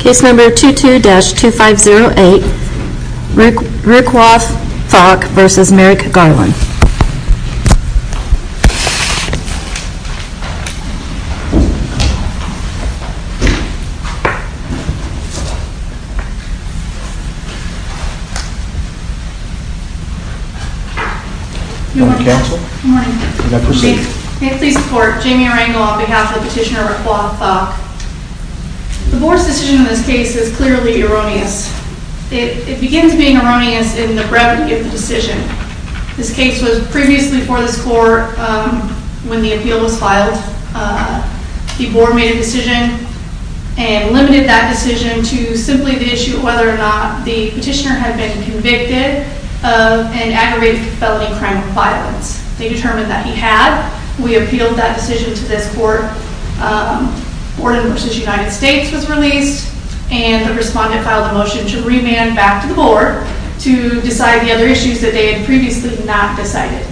Case number 22-2508, Roachkuoth Thok v. Merrick Garland Good morning counsel. Good morning. May I proceed? May I please report, Jamie Rangel on behalf of Petitioner Roachkuoth Thok The board's decision in this case is clearly erroneous. It begins being erroneous in the brevity of the decision. This case was previously before this court when the appeal was filed. The board made a decision and limited that decision to simply the issue of whether or not the petitioner had been convicted of an aggravated felony crime of violence. They determined that he had. We appealed that decision to this court. Borden v. United States was released and the respondent filed a motion to remand back to the board to decide the other issues that they had previously not decided.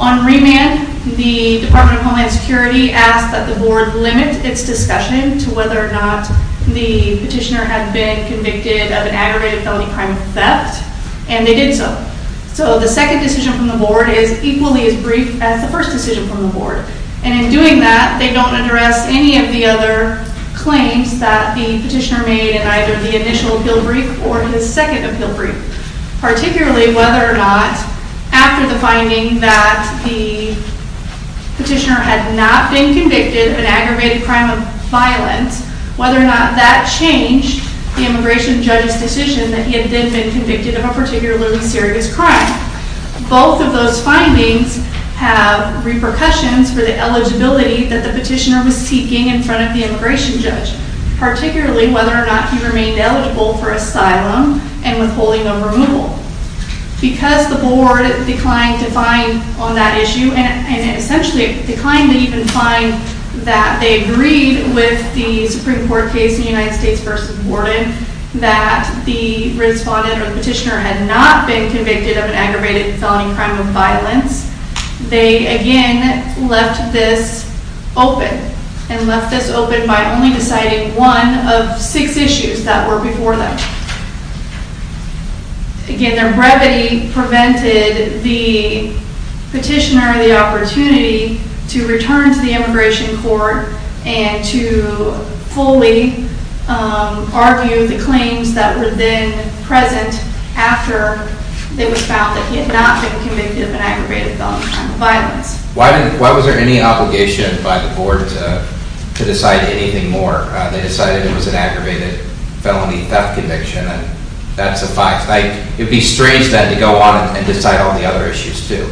On remand, the Department of Homeland Security asked that the board limit its discussion to whether or not the petitioner had been convicted of an aggravated felony crime of theft. And they did so. So the second decision from the board is equally as brief as the first decision from the board. And in doing that, they don't address any of the other claims that the petitioner made in either the initial appeal brief or his second appeal brief. Particularly whether or not after the finding that the petitioner had not been convicted of an aggravated crime of violence, whether or not that changed the immigration judge's decision that he had then been convicted of a particularly serious crime. Both of those findings have repercussions for the eligibility that the petitioner was seeking in front of the immigration judge. Particularly whether or not he remained eligible for asylum and withholding of removal. Because the board declined to find on that issue, and it essentially declined to even find that they agreed with the Supreme Court case in United States v. Borden, that the respondent or the petitioner had not been convicted of an aggravated felony crime of violence, they again left this open. And left this open by only deciding one of six issues that were before them. Again, their brevity prevented the petitioner the opportunity to return to the immigration court and to fully argue the claims that were then present after it was found that he had not been convicted of an aggravated felony crime of violence. Why was there any obligation by the board to decide anything more? They decided it was an aggravated felony theft conviction, and that's a fact. It would be strange then to go on and decide all the other issues too.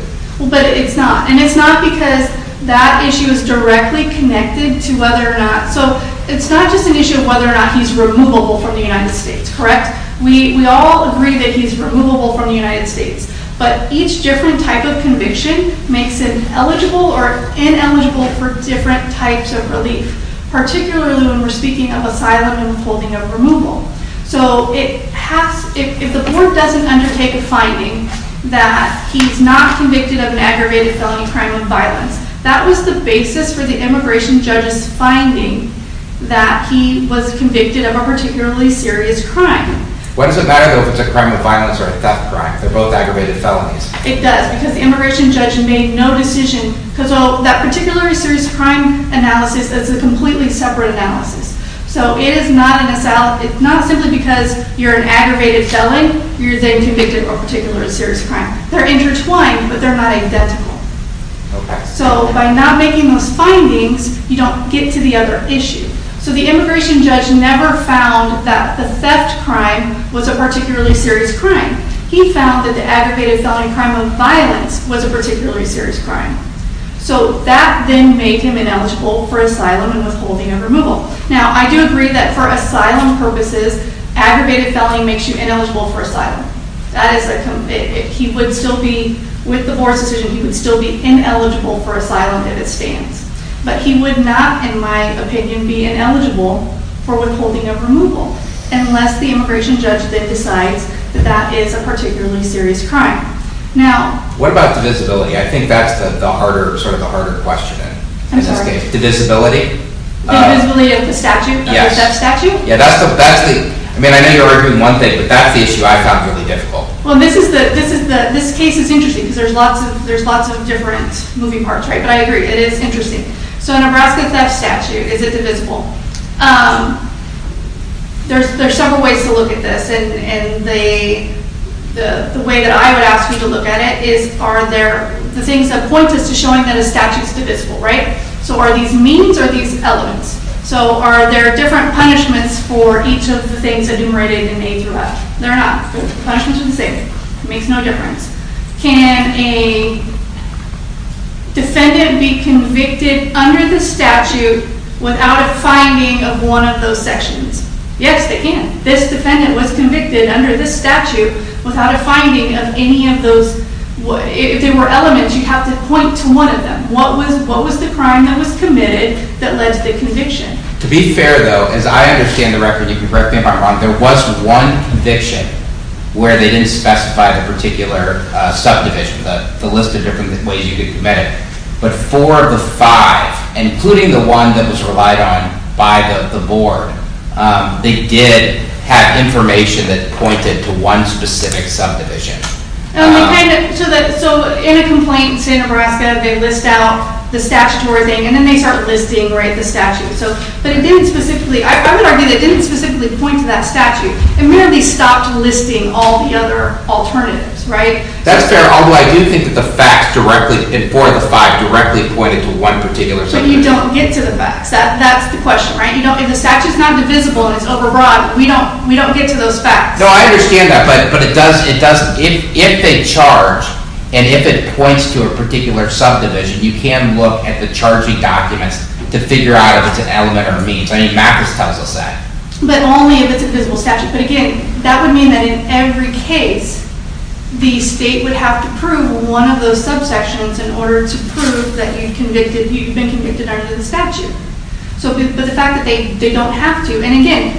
But it's not. And it's not because that issue is directly connected to whether or not... So it's not just an issue of whether or not he's removable from the United States, correct? We all agree that he's removable from the United States. But each different type of conviction makes him eligible or ineligible for different types of relief, particularly when we're speaking of asylum and holding of removal. So if the board doesn't undertake a finding that he's not convicted of an aggravated felony crime of violence, that was the basis for the immigration judge's finding that he was convicted of a particularly serious crime. What does it matter if it's a crime of violence or a theft crime? They're both aggravated felonies. It does, because the immigration judge made no decision. Because that particularly serious crime analysis is a completely separate analysis. So it is not simply because you're an aggravated felon, you're then convicted of a particular serious crime. They're intertwined, but they're not identical. So by not making those findings, you don't get to the other issue. So the immigration judge never found that the theft crime was a particularly serious crime. He found that the aggravated felony crime of violence was a particularly serious crime. So that then made him ineligible for asylum and withholding of removal. Now, I do agree that for asylum purposes, aggravated felony makes you ineligible for asylum. With the board's decision, he would still be ineligible for asylum if it stands. But he would not, in my opinion, be ineligible for withholding of removal, unless the immigration judge then decides that that is a particularly serious crime. What about divisibility? I think that's sort of the harder question in this case. Divisibility? Divisibility of the statute? Of the theft statute? I mean, I know you're arguing one thing, but that's the issue I found really difficult. Well, this case is interesting, because there's lots of different moving parts, right? But I agree, it is interesting. So Nebraska theft statute, is it divisible? There's several ways to look at this, and the way that I would ask you to look at it is, are there the things that point us to showing that a statute is divisible, right? So are these means, or are these elements? So are there different punishments for each of the things enumerated in A through F? There are not. Punishments are the same. It makes no difference. Can a defendant be convicted under the statute without a finding of one of those sections? Yes, they can. This defendant was convicted under this statute without a finding of any of those. If they were elements, you'd have to point to one of them. What was the crime that was committed that led to the conviction? To be fair, though, as I understand the record, you can correct me if I'm wrong, there was one conviction where they didn't specify the particular subdivision, the list of different ways you could commit it. But for the five, including the one that was relied on by the board, they did have information that pointed to one specific subdivision. So in a complaint in Santa Barbara, they list out the statutory thing, and then they start listing the statute. But I would argue that it didn't specifically point to that statute. It merely stopped listing all the other alternatives, right? That's fair, although I do think that the facts directly in 4 of the 5 directly pointed to one particular subdivision. So you don't get to the facts. That's the question, right? If the statute's not divisible and it's overbroad, we don't get to those facts. No, I understand that, but it doesn't. If they charge and if it points to a particular subdivision, you can look at the charging documents to figure out if it's an element or a means. I mean, Mattress tells us that. But only if it's a visible statute. But again, that would mean that in every case, the state would have to prove one of those subsections in order to prove that you've been convicted under the statute. But the fact that they don't have to, and again,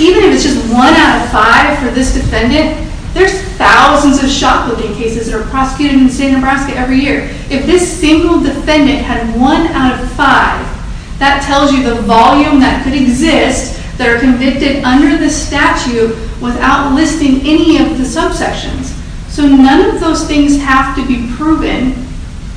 even if it's just 1 out of 5 for this defendant, there's thousands of shoplifting cases that are prosecuted in the state of Nebraska every year. If this single defendant had 1 out of 5, that tells you the volume that could exist that are convicted under the statute without listing any of the subsections. So none of those things have to be proven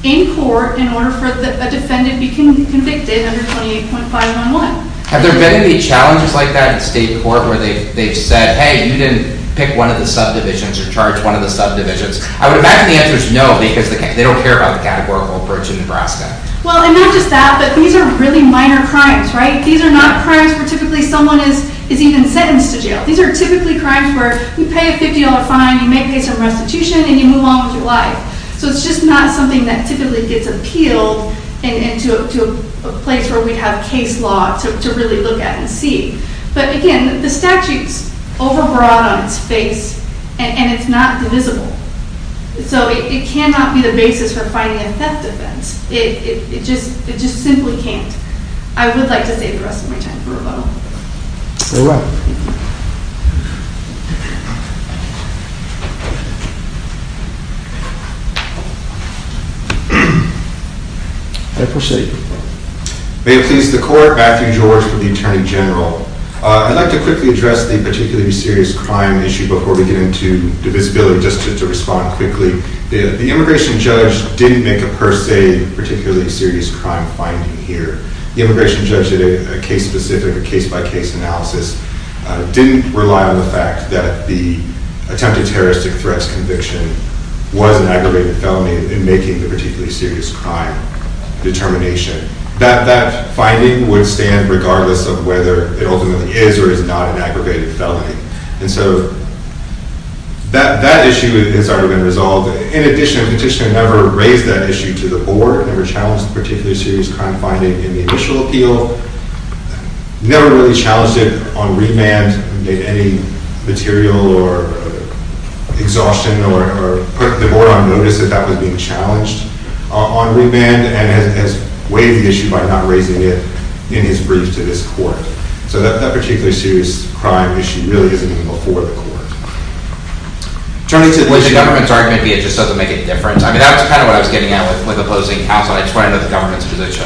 in court in order for a defendant to be convicted under 28.511. Have there been any challenges like that in state court where they've said, hey, you didn't pick one of the subdivisions or charge one of the subdivisions? I would imagine the answer is no because they don't care about the categorical approach in Nebraska. Well, and not just that, but these are really minor crimes, right? These are not crimes where typically someone is even sentenced to jail. These are typically crimes where you pay a $50 fine, you may pay some restitution, and you move on with your life. So it's just not something that typically gets appealed into a place where we'd have case law to really look at and see. But again, the statute's overbroad on its face, and it's not divisible. So it cannot be the basis for fighting a theft offense. It just simply can't. I would like to save the rest of my time for rebuttal. Very well. I appreciate it. May it please the Court, Matthew George for the Attorney General. I'd like to quickly address the particularly serious crime issue before we get into divisibility, just to respond quickly. The immigration judge didn't make a per se particularly serious crime finding here. The immigration judge did a case-specific, a case-by-case analysis, didn't rely on the fact that the attempted terroristic threats conviction was an aggravated felony in making the particularly serious crime determination. That finding would stand regardless of whether it ultimately is or is not an aggravated felony. And so that issue has already been resolved. In addition, the petitioner never raised that issue to the board, never challenged the particularly serious crime finding in the initial appeal, never really challenged it on remand, made any material or exhaustion or put the board on notice that that was being challenged on remand, and has weighed the issue by not raising it in his brief to this court. So that particularly serious crime issue really isn't even before the court. Turning to the government's argument, maybe it just doesn't make a difference. I mean, that was kind of what I was getting at with opposing counsel. I just want to know the government's position.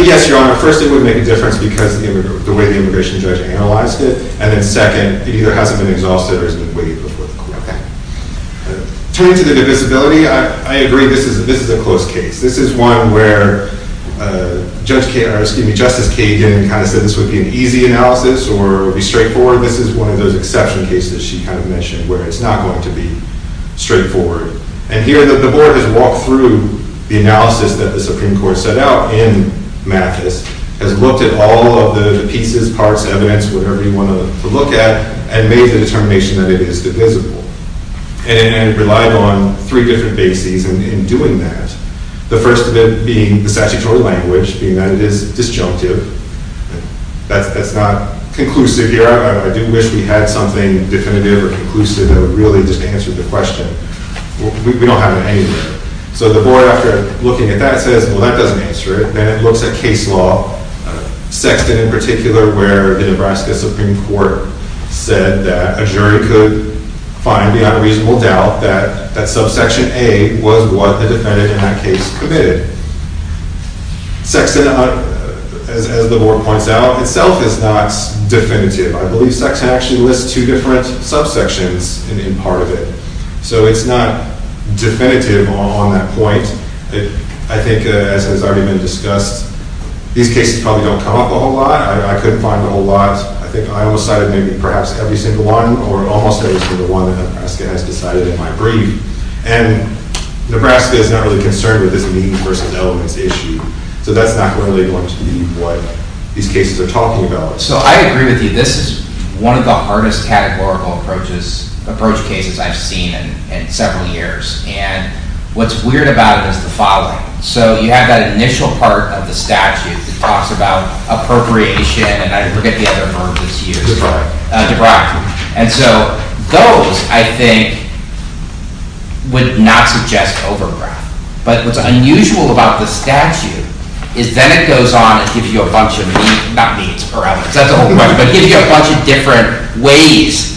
Yes, Your Honor. First, it would make a difference because of the way the immigration judge analyzed it. And then second, it either hasn't been exhausted or has been weighed before the court. Okay. Turning to the divisibility, I agree this is a close case. This is one where Justice Kagan kind of said this would be an easy analysis or it would be straightforward. This is one of those exception cases she kind of mentioned where it's not going to be straightforward. And here the board has walked through the analysis that the Supreme Court set out in Mathis, has looked at all of the pieces, parts, evidence, whatever you want to look at, and made the determination that it is divisible and relied on three different bases in doing that. The first of it being the statutory language, being that it is disjunctive. That's not conclusive here. I do wish we had something definitive or conclusive that would really just answer the question. We don't have it anywhere. So the board, after looking at that, says, well, that doesn't answer it. Then it looks at case law, Sexton in particular, where the Nebraska Supreme Court said that a jury could find without a reasonable doubt that subsection A was what the defendant in that case committed. Sexton, as the board points out, itself is not definitive. I believe Sexton actually lists two different subsections in part of it. So it's not definitive on that point. I think, as has already been discussed, these cases probably don't come up a whole lot. I couldn't find a whole lot. I think I almost cited maybe perhaps every single one or almost every single one that Nebraska has decided in my brief. And Nebraska is not really concerned with this means versus elements issue. So that's not really going to be what these cases are talking about. So I agree with you. This is one of the hardest categorical approach cases I've seen in several years. And what's weird about it is the following. So you have that initial part of the statute that talks about appropriation, and I forget the other verb that's used. Debrack. And so those, I think, would not suggest overground. But what's unusual about the statute is then it goes on and gives you a bunch of not means or elements. That's a whole other question. But it gives you a bunch of different ways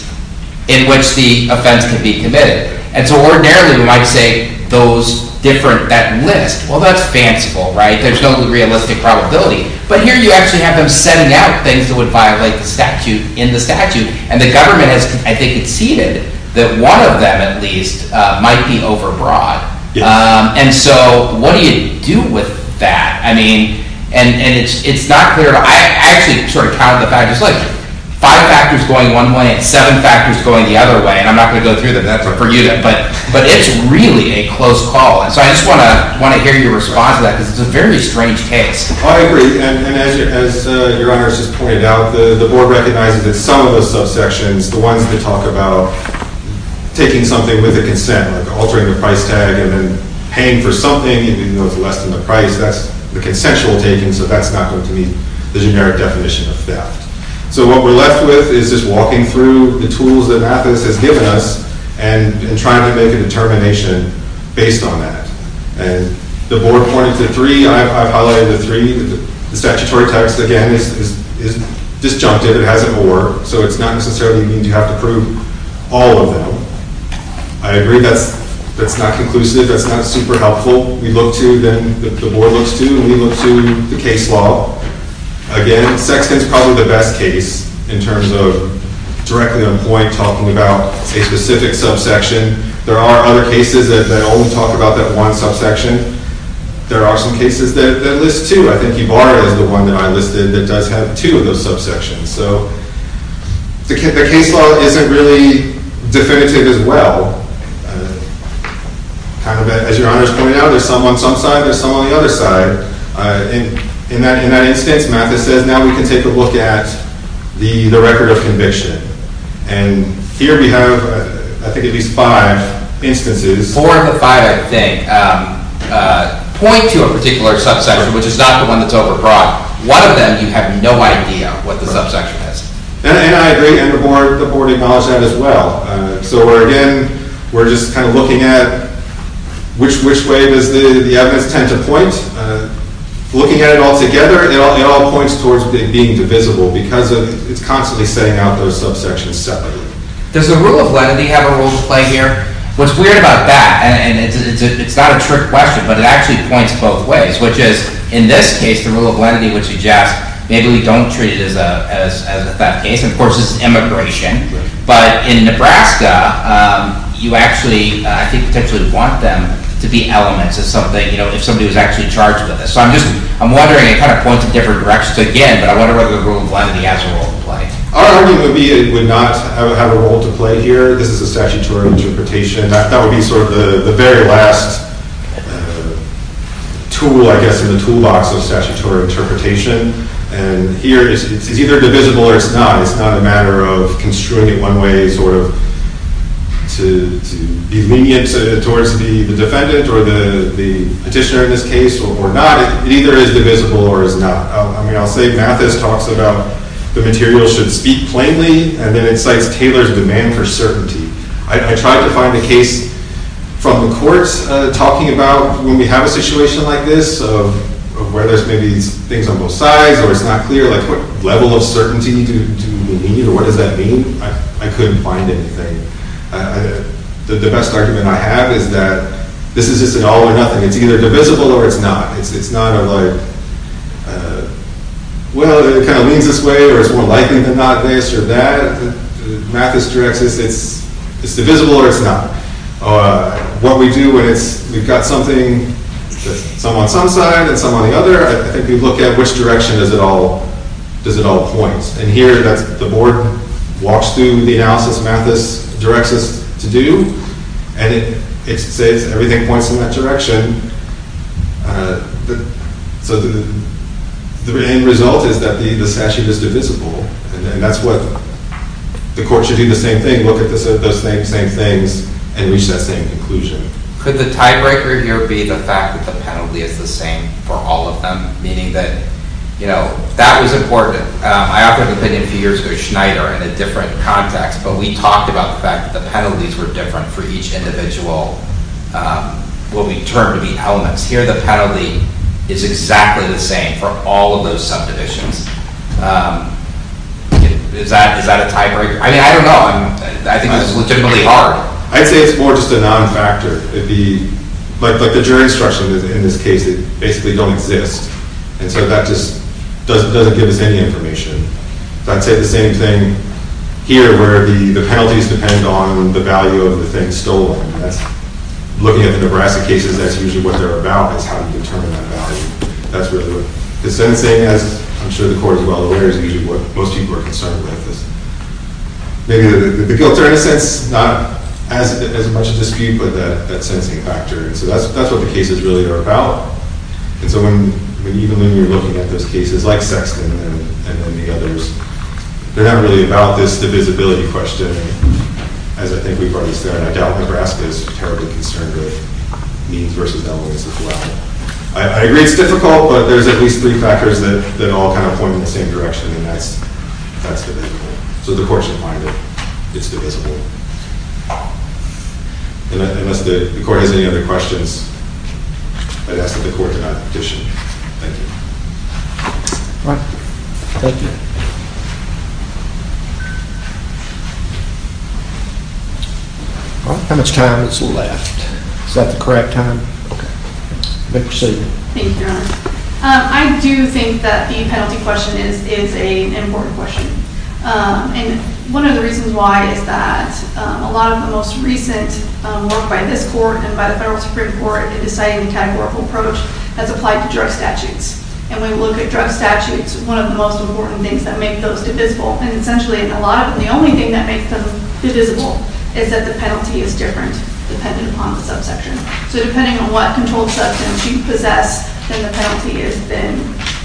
in which the offense can be committed. And so ordinarily we might say that list, well, that's fanciful, right? There's no realistic probability. But here you actually have them setting out things that would violate the statute in the statute. And the government has, I think, conceded that one of them at least might be overbroad. And so what do you do with that? I mean, and it's not clear. I actually sort of count it back. It's like five factors going one way and seven factors going the other way. And I'm not going to go through them. That's for you. But it's really a close call. And so I just want to hear your response to that because it's a very strange case. I agree. And as Your Honor has just pointed out, the board recognizes that some of those subsections, the ones that talk about taking something with a consent, like altering the price tag and then paying for something even though it's less than the price, that's the consensual taking, so that's not going to meet the generic definition of theft. So what we're left with is just walking through the tools that Mathis has given us and trying to make a determination based on that. And the board pointed to three. I've highlighted the three. The statutory text, again, is disjunctive. It has an or. So it's not necessarily that you have to prove all of them. I agree that's not conclusive. That's not super helpful. We look to, then the board looks to, and we look to the case law. Again, Sexton's probably the best case in terms of directly on point talking about a specific subsection. There are other cases that only talk about that one subsection. There are some cases that list two. I think Ybarra is the one that I listed that does have two of those subsections. So the case law isn't really definitive as well. As Your Honor is pointing out, there's some on some side, there's some on the other side. In that instance, Mathis says, now we can take a look at the record of conviction. And here we have, I think, at least five instances. Four of the five, I think, point to a particular subsection, which is not the one that's over-broad. One of them, you have no idea what the subsection is. And I agree, and the board acknowledged that as well. So, again, we're just kind of looking at which way does the evidence tend to point. Looking at it all together, it all points towards being divisible because it's constantly setting out those subsections separately. Does the rule of lenity have a role to play here? What's weird about that, and it's not a trick question, but it actually points both ways, which is, in this case, the rule of lenity would suggest maybe we don't treat it as a theft case. Of course, it's immigration. But in Nebraska, you actually, I think, potentially want them to be elements of something, if somebody was actually charged with this. So I'm wondering, it kind of points in different directions again, but I wonder whether the rule of lenity has a role to play. Our argument would be it would not have a role to play here. This is a statutory interpretation. That would be sort of the very last tool, I guess, in the toolbox of statutory interpretation. And here, it's either divisible or it's not. It's not a matter of construing it one way, sort of, to be lenient towards the defendant or the petitioner in this case, or not. It either is divisible or is not. I mean, I'll say Mathis talks about the material should speak plainly, and then it cites Taylor's demand for certainty. I tried to find a case from the courts talking about when we have a situation like this, of where there's maybe things on both sides, or it's not clear, like what level of certainty do we need, or what does that mean? I couldn't find anything. The best argument I have is that this is just an all or nothing. It's either divisible or it's not. It's not a, like, well, it kind of leans this way, or it's more likely than not this or that. Mathis directs us it's divisible or it's not. What we do when we've got something, some on some side and some on the other, I think we look at which direction does it all point. And here the board walks through the analysis Mathis directs us to do, and it says everything points in that direction. So the end result is that this statute is divisible, and that's what the court should do the same thing, look at those same things and reach that same conclusion. Could the tiebreaker here be the fact that the penalty is the same for all of them, meaning that, you know, that was important. I offered an opinion a few years ago, Schneider, in a different context, but we talked about the fact that the penalties were different for each individual, what we termed the elements. Here the penalty is exactly the same for all of those subdivisions. Is that a tiebreaker? I mean, I don't know. I think this is legitimately hard. I'd say it's more just a non-factor. Like the jury instruction in this case, it basically don't exist, and so that just doesn't give us any information. I'd say the same thing here where the penalties depend on the value of the thing stolen. Looking at the Nebraska cases, that's usually what they're about, is how you determine that value. The sentencing, as I'm sure the court is well aware, is usually what most people are concerned with. Maybe the guilts are, in a sense, not as much a dispute, but that sentencing factor. So that's what the cases really are about. And so even when you're looking at those cases like Sexton and then the others, they're not really about this divisibility question, as I think we've already said. I doubt Nebraska is terribly concerned with means versus elements as well. I agree it's difficult, but there's at least three factors that all kind of point in the same direction, and that's divisible. So the court should find that it's divisible. Unless the court has any other questions, I'd ask that the court do not petition. Thank you. Thank you. How much time is left? Is that the correct time? Thank you, Your Honor. I do think that the penalty question is an important question. And one of the reasons why is that a lot of the most recent work by this court and by the federal Supreme Court in deciding the categorical approach has applied to drug statutes. And when you look at drug statutes, one of the most important things that make those divisible, and essentially a lot of them, the only thing that makes them divisible, is that the penalty is different depending upon the subsection. So depending on what controlled substance you possess, then the penalty is then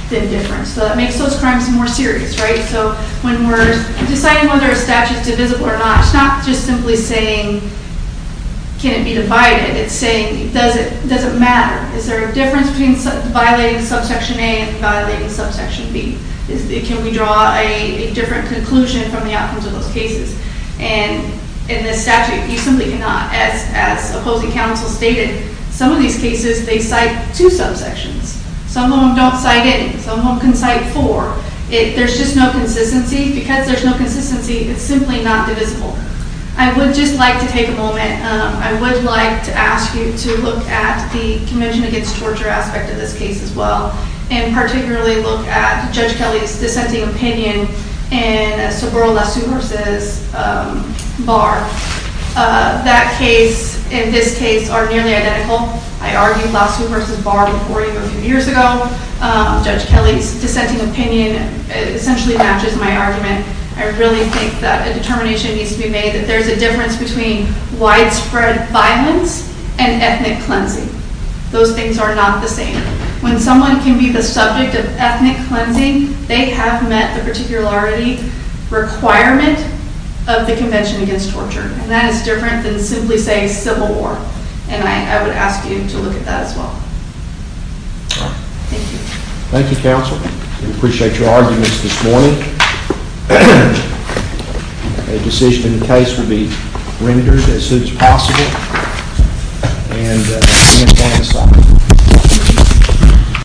different. So that makes those crimes more serious, right? So when we're deciding whether a statute is divisible or not, it's not just simply saying can it be divided. It's saying does it matter? Is there a difference between violating subsection A and violating subsection B? Can we draw a different conclusion from the outcomes of those cases? And in this statute, you simply cannot. As opposing counsel stated, some of these cases they cite two subsections. Some of them don't cite it. Some of them can cite four. There's just no consistency. Because there's no consistency, it's simply not divisible. I would just like to take a moment. I would like to ask you to look at the Convention Against Torture aspect of this case as well and particularly look at Judge Kelly's dissenting opinion in a Sobero-Lassue v. Barr. That case and this case are nearly identical. I argued Lassue v. Barr before you a few years ago. Judge Kelly's dissenting opinion essentially matches my argument. I really think that a determination needs to be made that there's a difference between widespread violence and ethnic cleansing. Those things are not the same. When someone can be the subject of ethnic cleansing, they have met the particularity requirement of the Convention Against Torture. And that is different than simply saying civil war. And I would ask you to look at that as well. Thank you. Thank you, counsel. We appreciate your arguments this morning. A decision in the case will be rendered as soon as possible. And the hearing is going to stop.